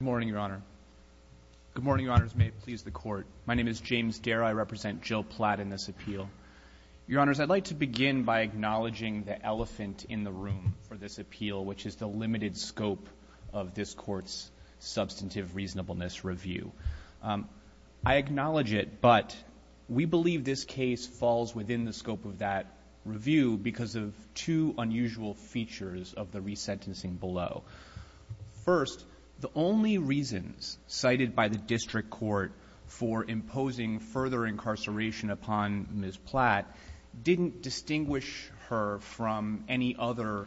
Good morning, Your Honor. Good morning, Your Honors. May it please the Court. My name is James Dare. I represent Jill Platt in this appeal. Your Honors, I'd like to begin by acknowledging the elephant in the room for this appeal, which is the limited scope of this Court's substantive reasonableness review. I acknowledge it, but we believe this case falls within the scope of that review because of two unusual features of the resentencing below. First, the only reasons cited by the district court for imposing further incarceration upon Ms. Platt didn't distinguish her from any other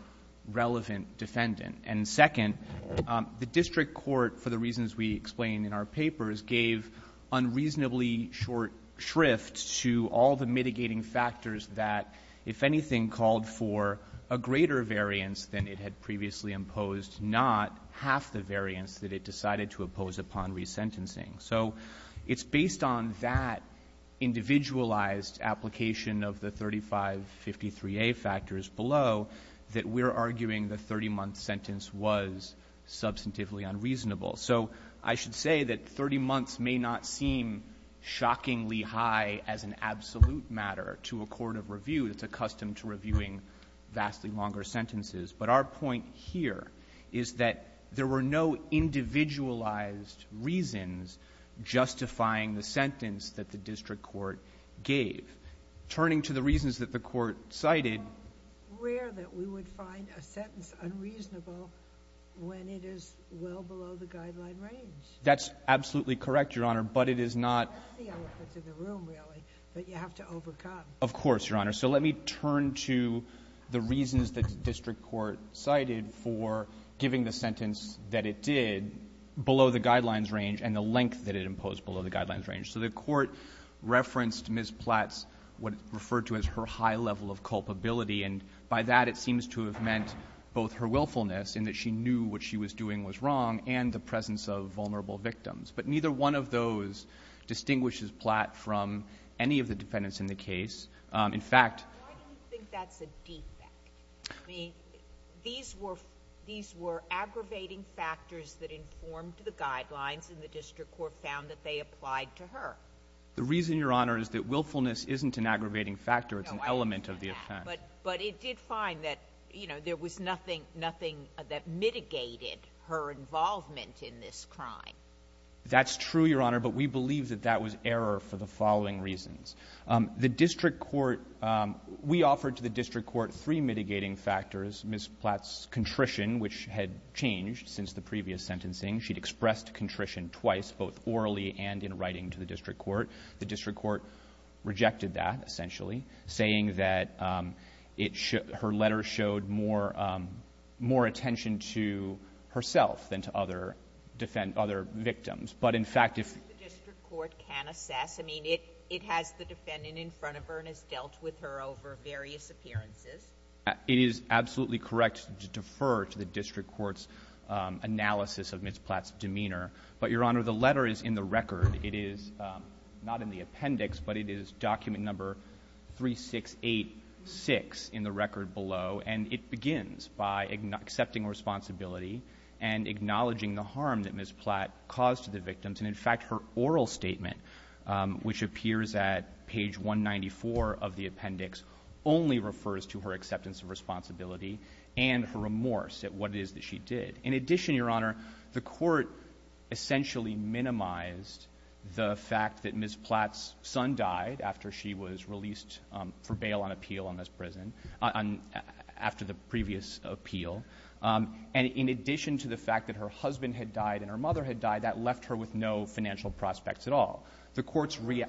relevant defendant. And second, the district court, for the reasons we explained in our papers, gave unreasonably short shrift to all the mitigating factors that, if anything, called for a greater variance than it had previously imposed, not half the variance that it decided to impose upon resentencing. So it's based on that individualized application of the 3553A factors below that we're arguing the 30-month sentence was substantively unreasonable. So I should say that 30 months may not seem shockingly high as an absolute matter to a court of review that's accustomed to reviewing vastly longer sentences. But our point here is that there were no individualized reasons justifying the sentence that the district court gave. Turning to the reasons that the Court cited. It's rare that we would find a sentence unreasonable when it is well below the guideline range. That's absolutely correct, Your Honor. But it is not the elephant in the room, really, that you have to overcome. Of course, Your Honor. So let me turn to the reasons that the district court cited for giving the sentence that it did below the guidelines range and the length that it imposed below the guidelines range. So the Court referenced Ms. Platt's what it referred to as her high level of culpability. And by that, it seems to have meant both her willfulness in that she knew what she was doing was wrong and the presence of vulnerable victims. But neither one of those distinguishes Platt from any of the defendants in the case. In fact— Why do you think that's a defect? These were aggravating factors that informed the guidelines, and the district court found that they applied to her. The reason, Your Honor, is that willfulness isn't an aggravating factor. It's an element of the offense. But it did find that there was nothing that mitigated her involvement in this crime. That's true, Your Honor, but we believe that that was error for the following reasons. The district court — we offered to the district court three mitigating factors, Ms. Platt's contrition, which had changed since the previous sentencing. She'd expressed contrition twice, both orally and in writing to the district court. The district court rejected that, essentially, saying that it — her letter showed more attention to herself than to other victims. But in fact, if— I mean, it has the defendant in front of her and has dealt with her over various appearances. It is absolutely correct to defer to the district court's analysis of Ms. Platt's demeanor. But, Your Honor, the letter is in the record. It is not in the appendix, but it is document number 3686 in the record below. And it begins by accepting responsibility and acknowledging the harm that Ms. Platt caused to the victims. And, in fact, her oral statement, which appears at page 194 of the appendix, only refers to her acceptance of responsibility and her remorse at what it is that she did. In addition, Your Honor, the court essentially minimized the fact that Ms. Platt's son died after she was released for bail on appeal on this prison, on — after the previous appeal. And in addition to the fact that her husband had died and her mother had died, that left her with no financial prospects at all. The court's — Are you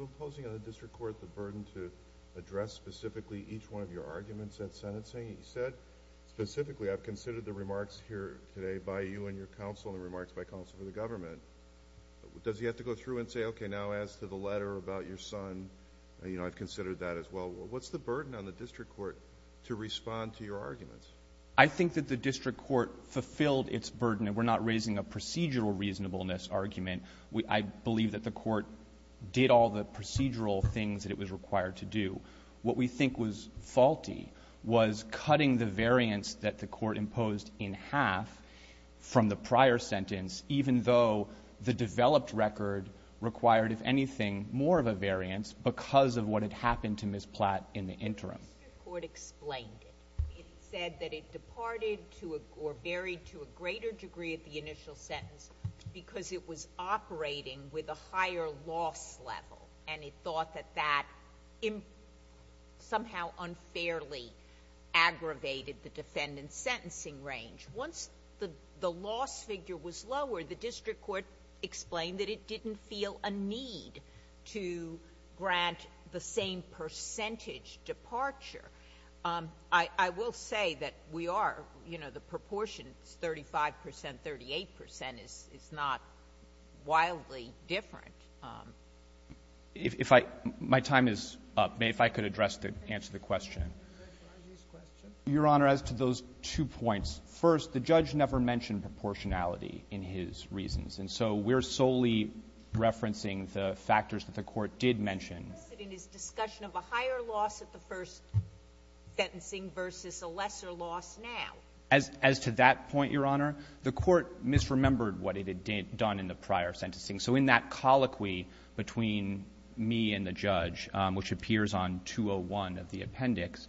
imposing on the district court the burden to address specifically each one of your arguments at sentencing? You said, specifically, I've considered the remarks here today by you and your counsel and the remarks by counsel for the government. Does he have to go through and say, okay, now as to the letter about your son, you know, I've considered that as well. What's the burden on the district court to respond to your arguments? I think that the district court fulfilled its burden. And we're not raising a procedural reasonableness argument. I believe that the court did all the procedural things that it was required to do. What we think was faulty was cutting the variance that the court imposed in half from the prior sentence, even though the developed record required, if anything, more of a cut in the interim. But the district court explained it. It said that it departed to a — or varied to a greater degree at the initial sentence because it was operating with a higher loss level, and it thought that that somehow unfairly aggravated the defendant's sentencing range. Once the loss figure was lowered, the district court explained that it didn't feel a need to grant the same percentage departure. I will say that we are, you know, the proportions, 35 percent, 38 percent, is not wildly different. If I — my time is up. May I, if I could, address the — answer the question? Your Honor, as to those two points, first, the judge never mentioned proportionality in his reasons. And so we're solely referencing the factors that the court did mention. The precedent is discussion of a higher loss at the first sentencing versus a lesser loss now. As to that point, Your Honor, the court misremembered what it had done in the prior sentencing. So in that colloquy between me and the judge, which appears on 201 of the appendix,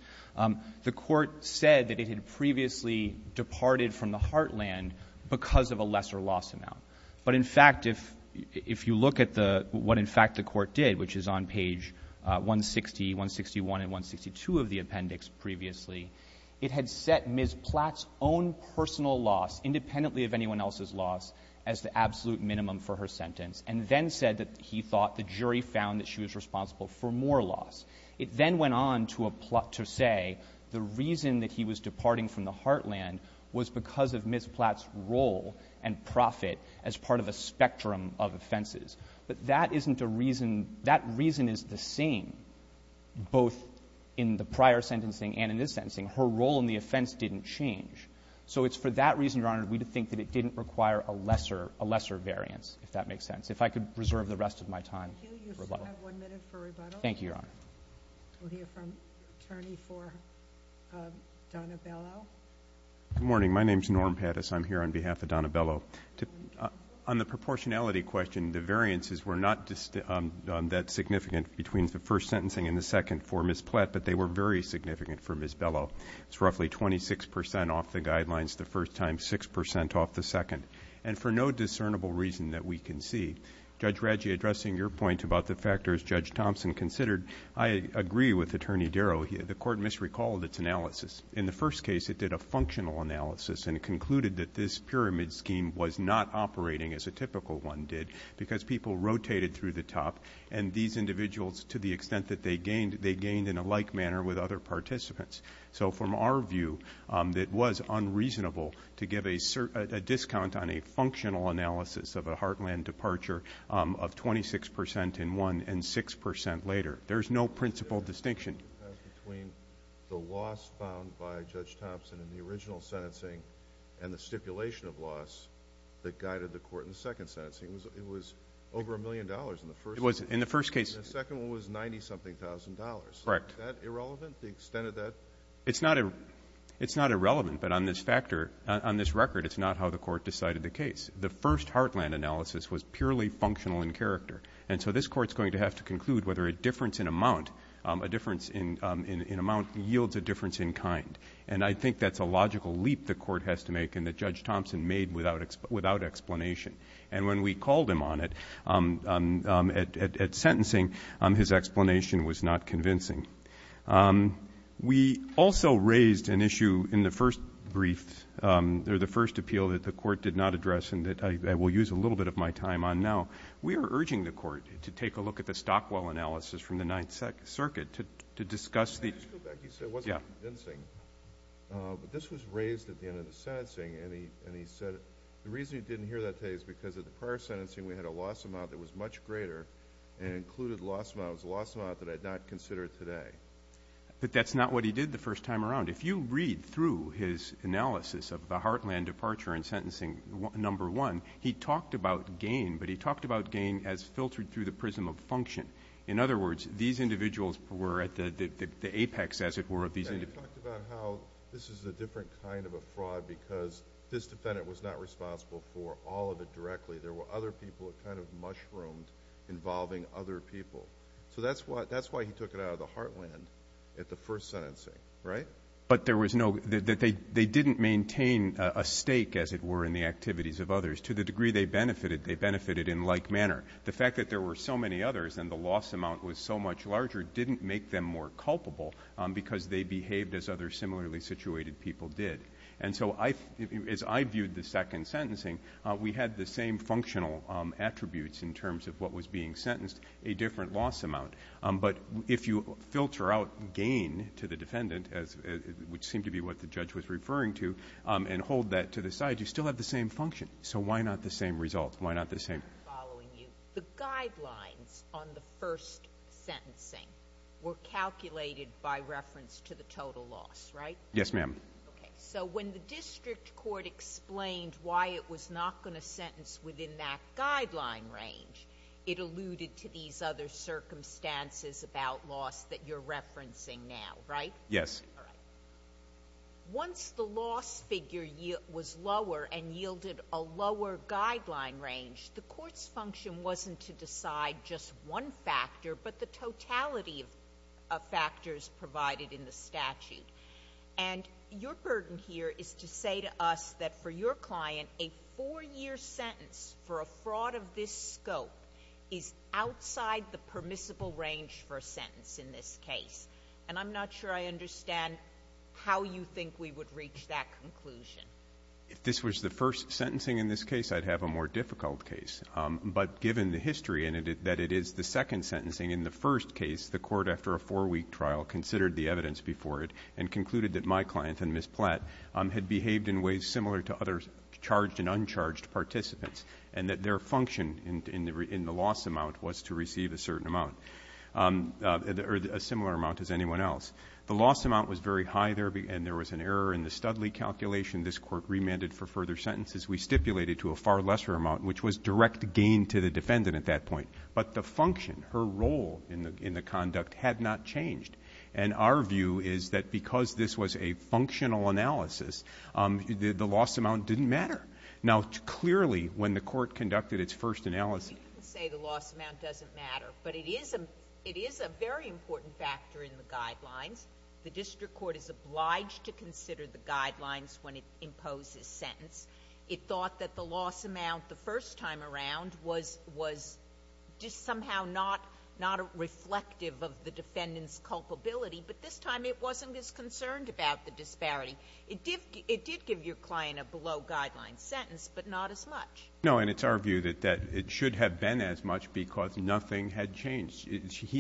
the court said that it had previously departed from the heartland because of a lesser loss amount. But in fact, if you look at the — what, in fact, the court did, which is on page 160, 161, and 162 of the appendix previously, it had set Ms. Platt's own personal loss, independently of anyone else's loss, as the absolute minimum for her sentence, and then said that he thought the jury found that she was responsible for more loss. It then went on to say the reason that he was departing from the heartland was because of Ms. Platt's role and profit as part of a spectrum of offenses. But that isn't a reason — that reason is the same, both in the prior sentencing and in this sentencing. Her role in the offense didn't change. So it's for that reason, Your Honor, we would think that it didn't require a lesser variance, if that makes sense. If I could reserve the rest of my time for rebuttal. Thank you, Your Honor. We'll hear from attorney for Donna Bellow. Good morning. My name is Norm Pattis. I'm here on behalf of Donna Bellow. On the proportionality question, the variances were not that significant between the first sentencing and the second for Ms. Platt, but they were very significant for Ms. Bellow. It's roughly 26 percent off the guidelines the first time, 6 percent off the second, and for no discernible reason that we can see. Judge Radji, addressing your point about the factors Judge Thompson considered, I agree with Attorney Darrow. The Court misrecalled its analysis. In the first case, it did a functional analysis, and it concluded that this pyramid scheme was not operating as a typical one did because people rotated through the top, and these individuals, to the extent that they gained, they gained in a like manner with other participants. So from our view, it was unreasonable to give a discount on a functional analysis of a heartland departure of 26 percent in one and 6 percent later. There's no principal distinction. The difference between the loss found by Judge Thompson in the original sentencing and the stipulation of loss that guided the Court in the second sentencing, it was over a million dollars in the first case. In the first case. And the second one was 90-something thousand dollars. Correct. Is that irrelevant, the extent of that? It's not irrelevant, but on this record, it's not how the Court decided the case. The first heartland analysis was purely functional in character, and so this Court is going to have to conclude whether a difference in amount, a difference in amount yields a difference in kind. And I think that's a logical leap the Court has to make and that Judge Thompson made without explanation. And when we called him on it at sentencing, his explanation was not convincing. We also raised an issue in the first brief, or the first appeal that the Court did not address and that I will use a little bit of my time on now. We are urging the Court to take a look at the Stockwell analysis from the Ninth Circuit to discuss the – I just go back to what you said, it wasn't convincing. But this was raised at the end of the sentencing and he said, the reason you didn't hear that today is because at the prior sentencing we had a loss amount that was much greater and included loss amounts, a loss amount that I'd not consider today. But that's not what he did the first time around. If you read through his analysis of the heartland departure in sentencing number one, he talked about gain, but he talked about gain as filtered through the prism of function. In other words, these individuals were at the apex, as it were, of these individuals. And he talked about how this is a different kind of a fraud because this defendant was not responsible for all of it directly. There were other people who kind of mushroomed involving other people. So that's why he took it out of the heartland at the first sentencing, right? But there was no – they didn't maintain a stake, as it were, in the activities of others to the degree they benefited. They benefited in like manner. The fact that there were so many others and the loss amount was so much larger didn't make them more culpable because they behaved as other similarly situated people did. And so as I viewed the second sentencing, we had the same functional attributes in terms of what was being sentenced, a different loss amount. But if you filter out gain to the defendant, which seemed to be what the judge was referring to, and hold that to the side, you still have the same function. So why not the same result? Why not the same? I'm following you. The guidelines on the first sentencing were calculated by reference to the total loss, right? Yes, ma'am. Okay. So when the district court explained why it was not going to sentence within that guideline range, it alluded to these other circumstances about loss that you're referencing now, right? Yes. Once the loss figure was lower and yielded a lower guideline range, the court's function wasn't to decide just one factor, but the totality of factors provided in the statute. And your burden here is to say to us that for your client, a four-year sentence for a fraud of this scope is outside the permissible range for a sentence in this case. And I'm not sure I understand how you think we would reach that conclusion. If this was the first sentencing in this case, I'd have a more difficult case. But given the history in it that it is the second sentencing in the first case, the court, after a four-week trial, considered the evidence before it and concluded that my client and Ms. Platt had behaved in ways similar to other charged and uncharged participants and that their function in the loss amount was to receive a certain amount, or a similar amount as anyone else. The loss amount was very high there, and there was an error in the Studley calculation. This court remanded for further sentences. We stipulated to a far lesser amount, which was direct gain to the defendant at that point. But the function, her role in the conduct, had not changed. And our view is that because this was a functional analysis, the loss amount didn't matter. Now, clearly, when the court conducted its first analysis — It is a very important factor in the guidelines. The district court is obliged to consider the guidelines when it imposes sentence. It thought that the loss amount the first time around was just somehow not reflective of the defendant's culpability, but this time it wasn't as concerned about the disparity. It did give your client a below-guideline sentence, but not as much. No, and it's our view that it should have been as much because nothing had changed.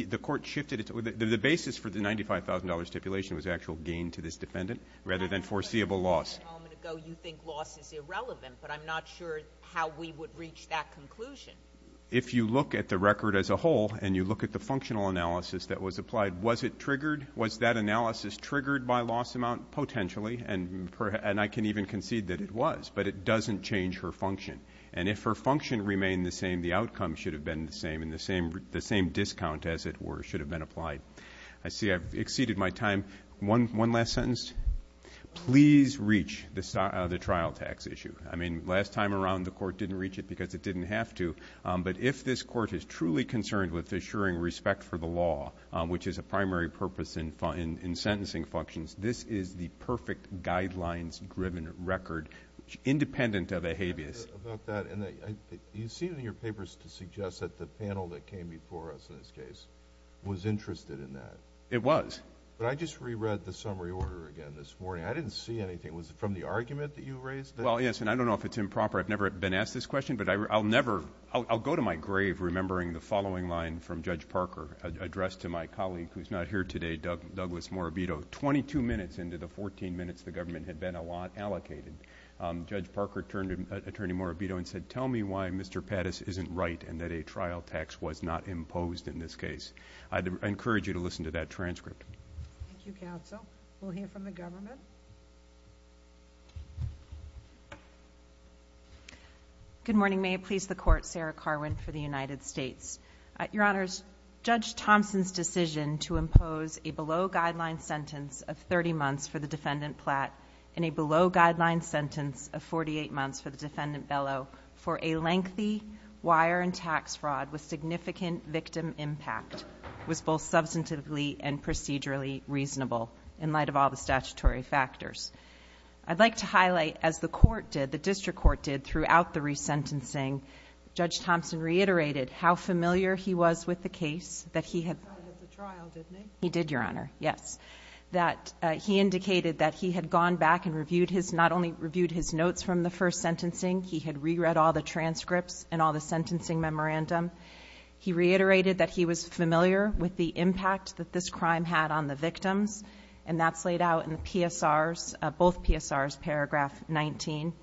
The court shifted it. The basis for the $95,000 stipulation was actual gain to this defendant rather than foreseeable loss. A moment ago, you think loss is irrelevant, but I'm not sure how we would reach that conclusion. If you look at the record as a whole and you look at the functional analysis that was applied, was it triggered? Was that analysis triggered by loss amount? Potentially, and I can even concede that it was, but it doesn't change her function. And if her function remained the same, the outcome should have been the same and the same discount as it were should have been applied. I see I've exceeded my time. One last sentence. Please reach the trial tax issue. I mean, last time around the court didn't reach it because it didn't have to, but if this court is truly concerned with assuring respect for the law, which is a primary purpose in sentencing functions, this is the perfect guidelines-driven record independent of a habeas. You seem in your papers to suggest that the panel that came before us in this case was interested in that. It was. But I just reread the summary order again this morning. I didn't see anything. Was it from the argument that you raised? Well, yes, and I don't know if it's improper. I've never been asked this question, but I'll go to my grave remembering the following line from Judge Parker, addressed to my colleague who's not here today, Douglas Morabito. Twenty-two minutes into the 14 minutes the government had been allocated, Judge Parker turned to Attorney Morabito and said, tell me why Mr. Pattis isn't right and that a trial tax was not imposed in this case. I encourage you to listen to that transcript. Thank you, counsel. We'll hear from the government. Good morning. May it please the Court, Sarah Carwin for the United States. Your Honors, Judge Thompson's decision to impose a below-guideline sentence of 30 months for the defendant Platt and a below-guideline sentence of 48 months for the defendant Bellow for a lengthy wire and tax fraud with significant victim impact was both substantively and procedurally reasonable in light of all the statutory factors. I'd like to highlight, as the court did, the district court did, throughout the resentencing, Judge Thompson reiterated how familiar he was with the case. He did, Your Honor, yes. He indicated that he had gone back and not only reviewed his notes from the first sentencing, he had reread all the transcripts and all the sentencing memorandum. He reiterated that he was familiar with the impact that this crime had on the victims, and that's laid out in both PSRs, paragraph 19.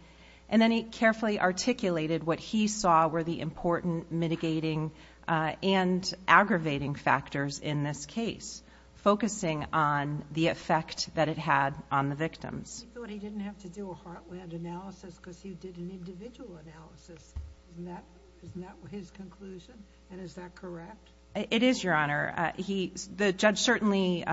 And then he carefully articulated what he saw were the important mitigating and aggravating factors in this case, focusing on the effect that it had on the victims. He thought he didn't have to do a heartland analysis because he did an individual analysis. Isn't that his conclusion, and is that correct? It is, Your Honor. The judge certainly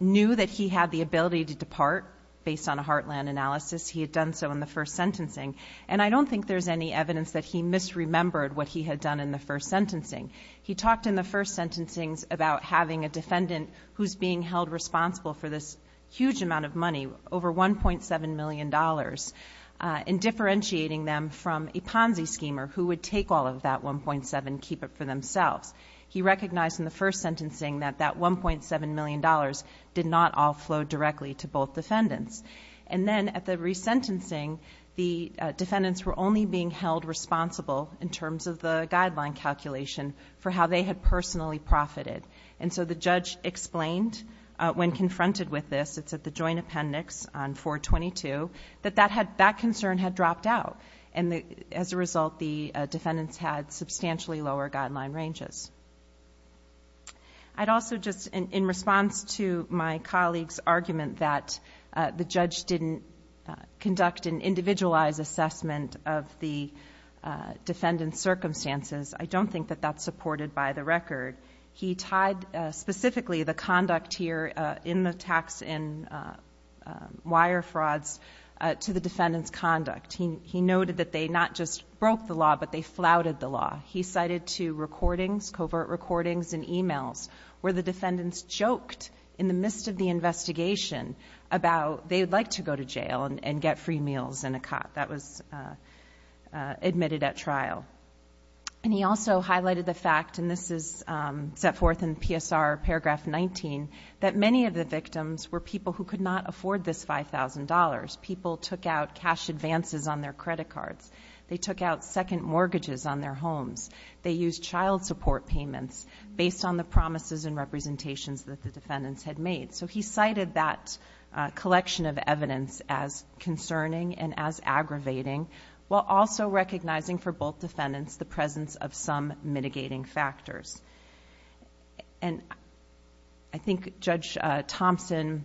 knew that he had the ability to depart based on a heartland analysis. He had done so in the first sentencing. And I don't think there's any evidence that he misremembered what he had done in the first sentencing. He talked in the first sentencing about having a defendant who's being held responsible for this huge amount of money, over $1.7 million, and differentiating them from a Ponzi schemer who would take all of that $1.7 million and keep it for themselves. He recognized in the first sentencing that that $1.7 million did not all flow directly to both defendants. And then at the resentencing, the defendants were only being held responsible, in terms of the guideline calculation, for how they had personally profited. And so the judge explained, when confronted with this, it's at the joint appendix on 422, that that concern had dropped out, and as a result the defendants had substantially lower guideline ranges. I'd also just, in response to my colleague's argument that the judge didn't conduct an individualized assessment of the defendant's circumstances, I don't think that that's supported by the record. He tied specifically the conduct here in the tax and wire frauds to the defendant's conduct. He noted that they not just broke the law, but they flouted the law. He cited two recordings, covert recordings and emails, where the defendants joked in the midst of the investigation about they would like to go to jail and get free meals in a cot that was admitted at trial. And he also highlighted the fact, and this is set forth in PSR paragraph 19, that many of the victims were people who could not afford this $5,000. People took out cash advances on their credit cards. They took out second mortgages on their homes. They used child support payments based on the promises and representations that the defendants had made. So he cited that collection of evidence as concerning and as aggravating, while also recognizing for both defendants the presence of some mitigating factors. And I think Judge Thompson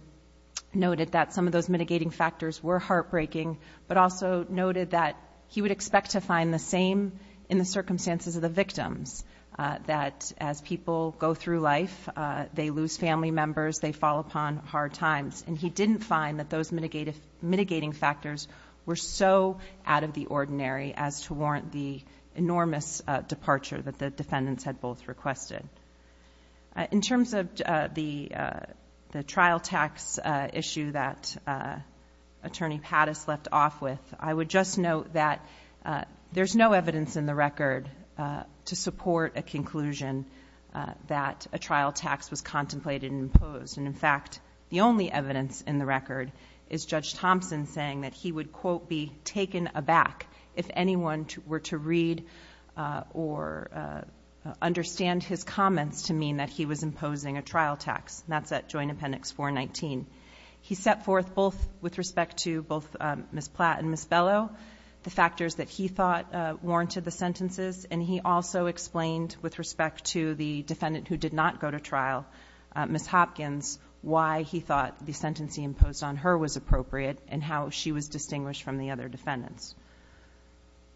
noted that some of those mitigating factors were heartbreaking, but also noted that he would expect to find the same in the circumstances of the victims, that as people go through life, they lose family members, they fall upon hard times. And he didn't find that those mitigating factors were so out of the ordinary as to warrant the enormous departure that the defendants had both requested. In terms of the trial tax issue that Attorney Pattis left off with, I would just note that there's no evidence in the record to support a conclusion that a trial tax was contemplated and imposed. And, in fact, the only evidence in the record is Judge Thompson saying that he would, quote, if anyone were to read or understand his comments to mean that he was imposing a trial tax. And that's at Joint Appendix 419. He set forth both with respect to both Ms. Platt and Ms. Bellow, the factors that he thought warranted the sentences. And he also explained with respect to the defendant who did not go to trial, Ms. Hopkins, why he thought the sentence he imposed on her was appropriate and how she was distinguished from the other defendants.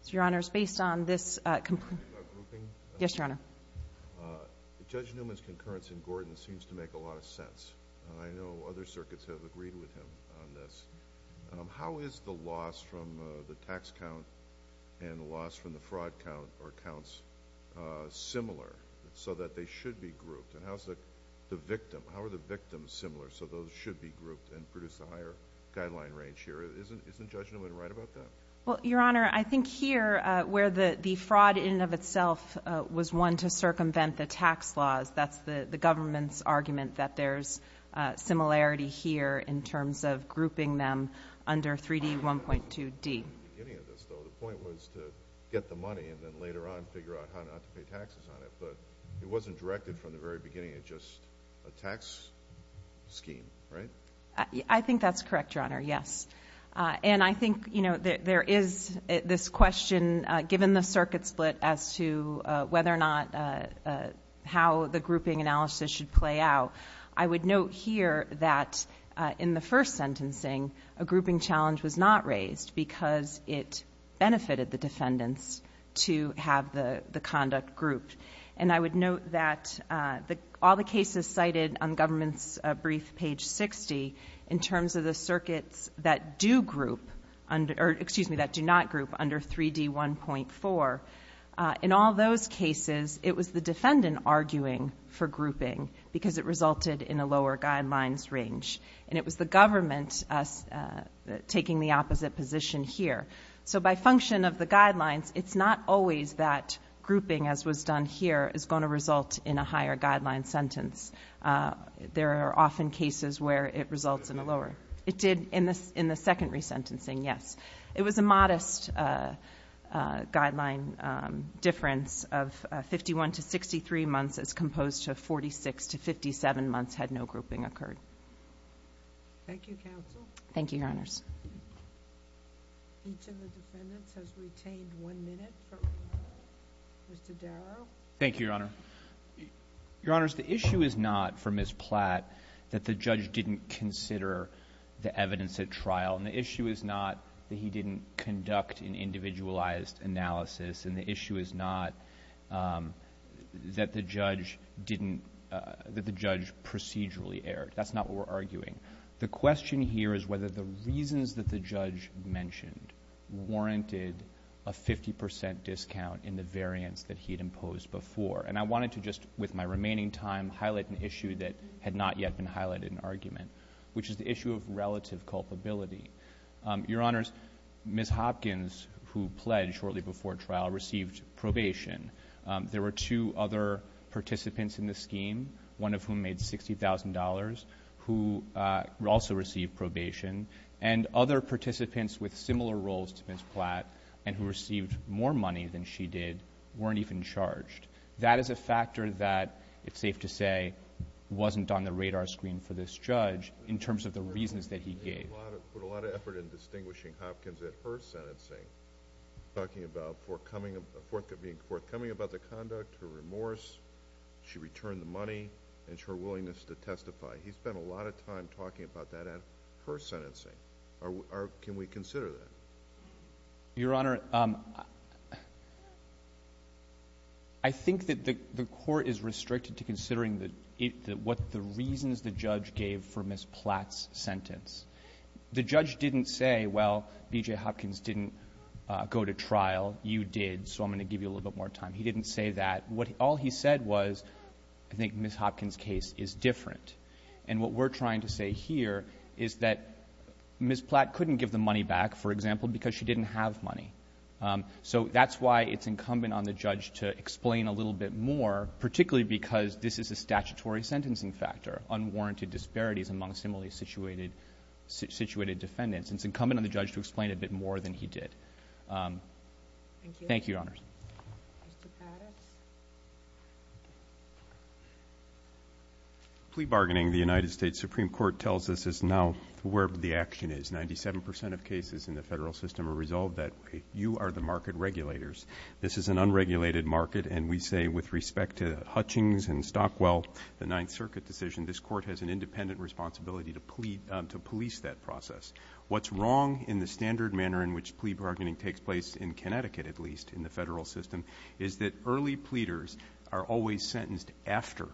So, Your Honors, based on this- Can I talk about grouping? Yes, Your Honor. Judge Newman's concurrence in Gordon seems to make a lot of sense. I know other circuits have agreed with him on this. How is the loss from the tax count and the loss from the fraud count or counts similar so that they should be grouped? And how are the victims similar so those should be grouped and produce a higher guideline range here? Isn't Judge Newman right about that? Well, Your Honor, I think here where the fraud in and of itself was one to circumvent the tax laws, that's the government's argument that there's similarity here in terms of grouping them under 3D, 1.2D. The point was to get the money and then later on figure out how not to pay taxes on it. But it wasn't directed from the very beginning. It's just a tax scheme, right? I think that's correct, Your Honor, yes. And I think, you know, there is this question given the circuit split as to whether or not how the grouping analysis should play out. I would note here that in the first sentencing, a grouping challenge was not raised because it benefited the defendants to have the conduct grouped. And I would note that all the cases cited on government's brief page 60 in terms of the circuits that do group or, excuse me, that do not group under 3D, 1.4, in all those cases, it was the defendant arguing for grouping because it resulted in a lower guidelines range. And it was the government taking the opposite position here. So by function of the guidelines, it's not always that grouping, as was done here, is going to result in a higher guideline sentence. There are often cases where it results in a lower. It did in the second resentencing, yes. It was a modest guideline difference of 51 to 63 months as composed of 46 to 57 months had no grouping occurred. Thank you, counsel. Thank you, Your Honors. Each of the defendants has retained one minute. Mr. Darrow. Thank you, Your Honor. Your Honors, the issue is not for Ms. Platt that the judge didn't consider the evidence at trial. And the issue is not that he didn't conduct an individualized analysis. And the issue is not that the judge procedurally erred. That's not what we're arguing. The question here is whether the reasons that the judge mentioned warranted a 50 percent discount in the variance that he had imposed before. And I wanted to just, with my remaining time, highlight an issue that had not yet been highlighted in the argument, which is the issue of relative culpability. Your Honors, Ms. Hopkins, who pledged shortly before trial, received probation. There were two other participants in the scheme, one of whom made $60,000, who also received probation. And other participants with similar roles to Ms. Platt and who received more money than she did weren't even charged. That is a factor that, it's safe to say, wasn't on the radar screen for this judge in terms of the reasons that he gave. He put a lot of effort in distinguishing Hopkins at her sentencing, talking about forthcoming about the conduct, her remorse, she returned the money, and her willingness to testify. He spent a lot of time talking about that at her sentencing. Can we consider that? Your Honor, I think that the court is restricted to considering what the reasons the judge gave for Ms. Platt's sentence. The judge didn't say, well, B.J. Hopkins didn't go to trial, you did, so I'm going to give you a little bit more time. He didn't say that. All he said was, I think Ms. Hopkins' case is different. And what we're trying to say here is that Ms. Platt couldn't give the money back, for example, because she didn't have money. So that's why it's incumbent on the judge to explain a little bit more, particularly because this is a statutory sentencing factor, unwarranted disparities among similarly situated defendants. And it's incumbent on the judge to explain a bit more than he did. Thank you, Your Honors. Mr. Pattis? Plea bargaining, the United States Supreme Court tells us, is now where the action is. Ninety-seven percent of cases in the federal system are resolved that way. You are the market regulators. This is an unregulated market, and we say with respect to Hutchings and Stockwell, the Ninth Circuit decision, this court has an independent responsibility to police that process. What's wrong in the standard manner in which plea bargaining takes place, in Connecticut at least, in the federal system, is that early pleaders are always sentenced after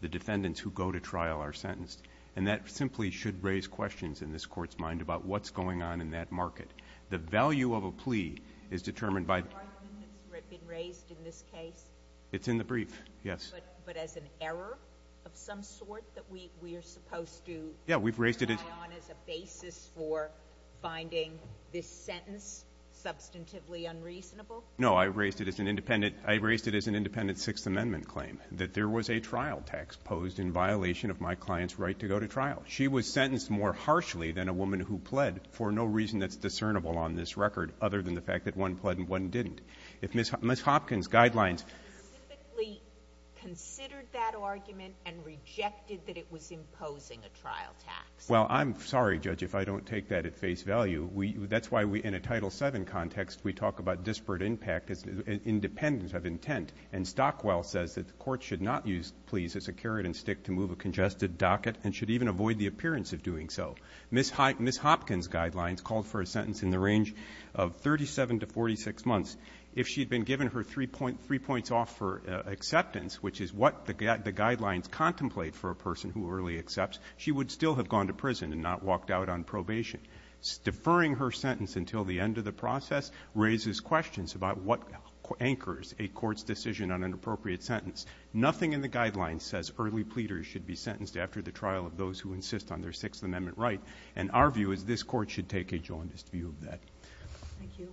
the defendants who go to trial are sentenced. And that simply should raise questions in this court's mind about what's going on in that market. The value of a plea is determined by the ---- Has there been arguments raised in this case? It's in the brief, yes. But as an error of some sort that we are supposed to rely on as a basis for finding this sentence substantively unreasonable? No. I raised it as an independent Sixth Amendment claim, that there was a trial tax posed in violation of my client's right to go to trial. She was sentenced more harshly than a woman who pled for no reason that's discernible on this record, other than the fact that one pled and one didn't. If Ms. Hopkins' guidelines ---- You specifically considered that argument and rejected that it was imposing a trial tax. Well, I'm sorry, Judge, if I don't take that at face value. That's why we, in a Title VII context, we talk about disparate impact as independent of intent. And Stockwell says that the Court should not use pleas as a carrot and stick to move a congested docket and should even avoid the appearance of doing so. Ms. Hopkins' guidelines called for a sentence in the range of 37 to 46 months. If she had been given her three points off for acceptance, which is what the guidelines contemplate for a person who early accepts, she would still have gone to prison and not walked out on probation. Deferring her sentence until the end of the process raises questions about what anchors a court's decision on an appropriate sentence. Nothing in the guidelines says early pleaders should be sentenced after the trial of those who insist on their Sixth Amendment right. And our view is this Court should take a jaundiced view of that. Thank you.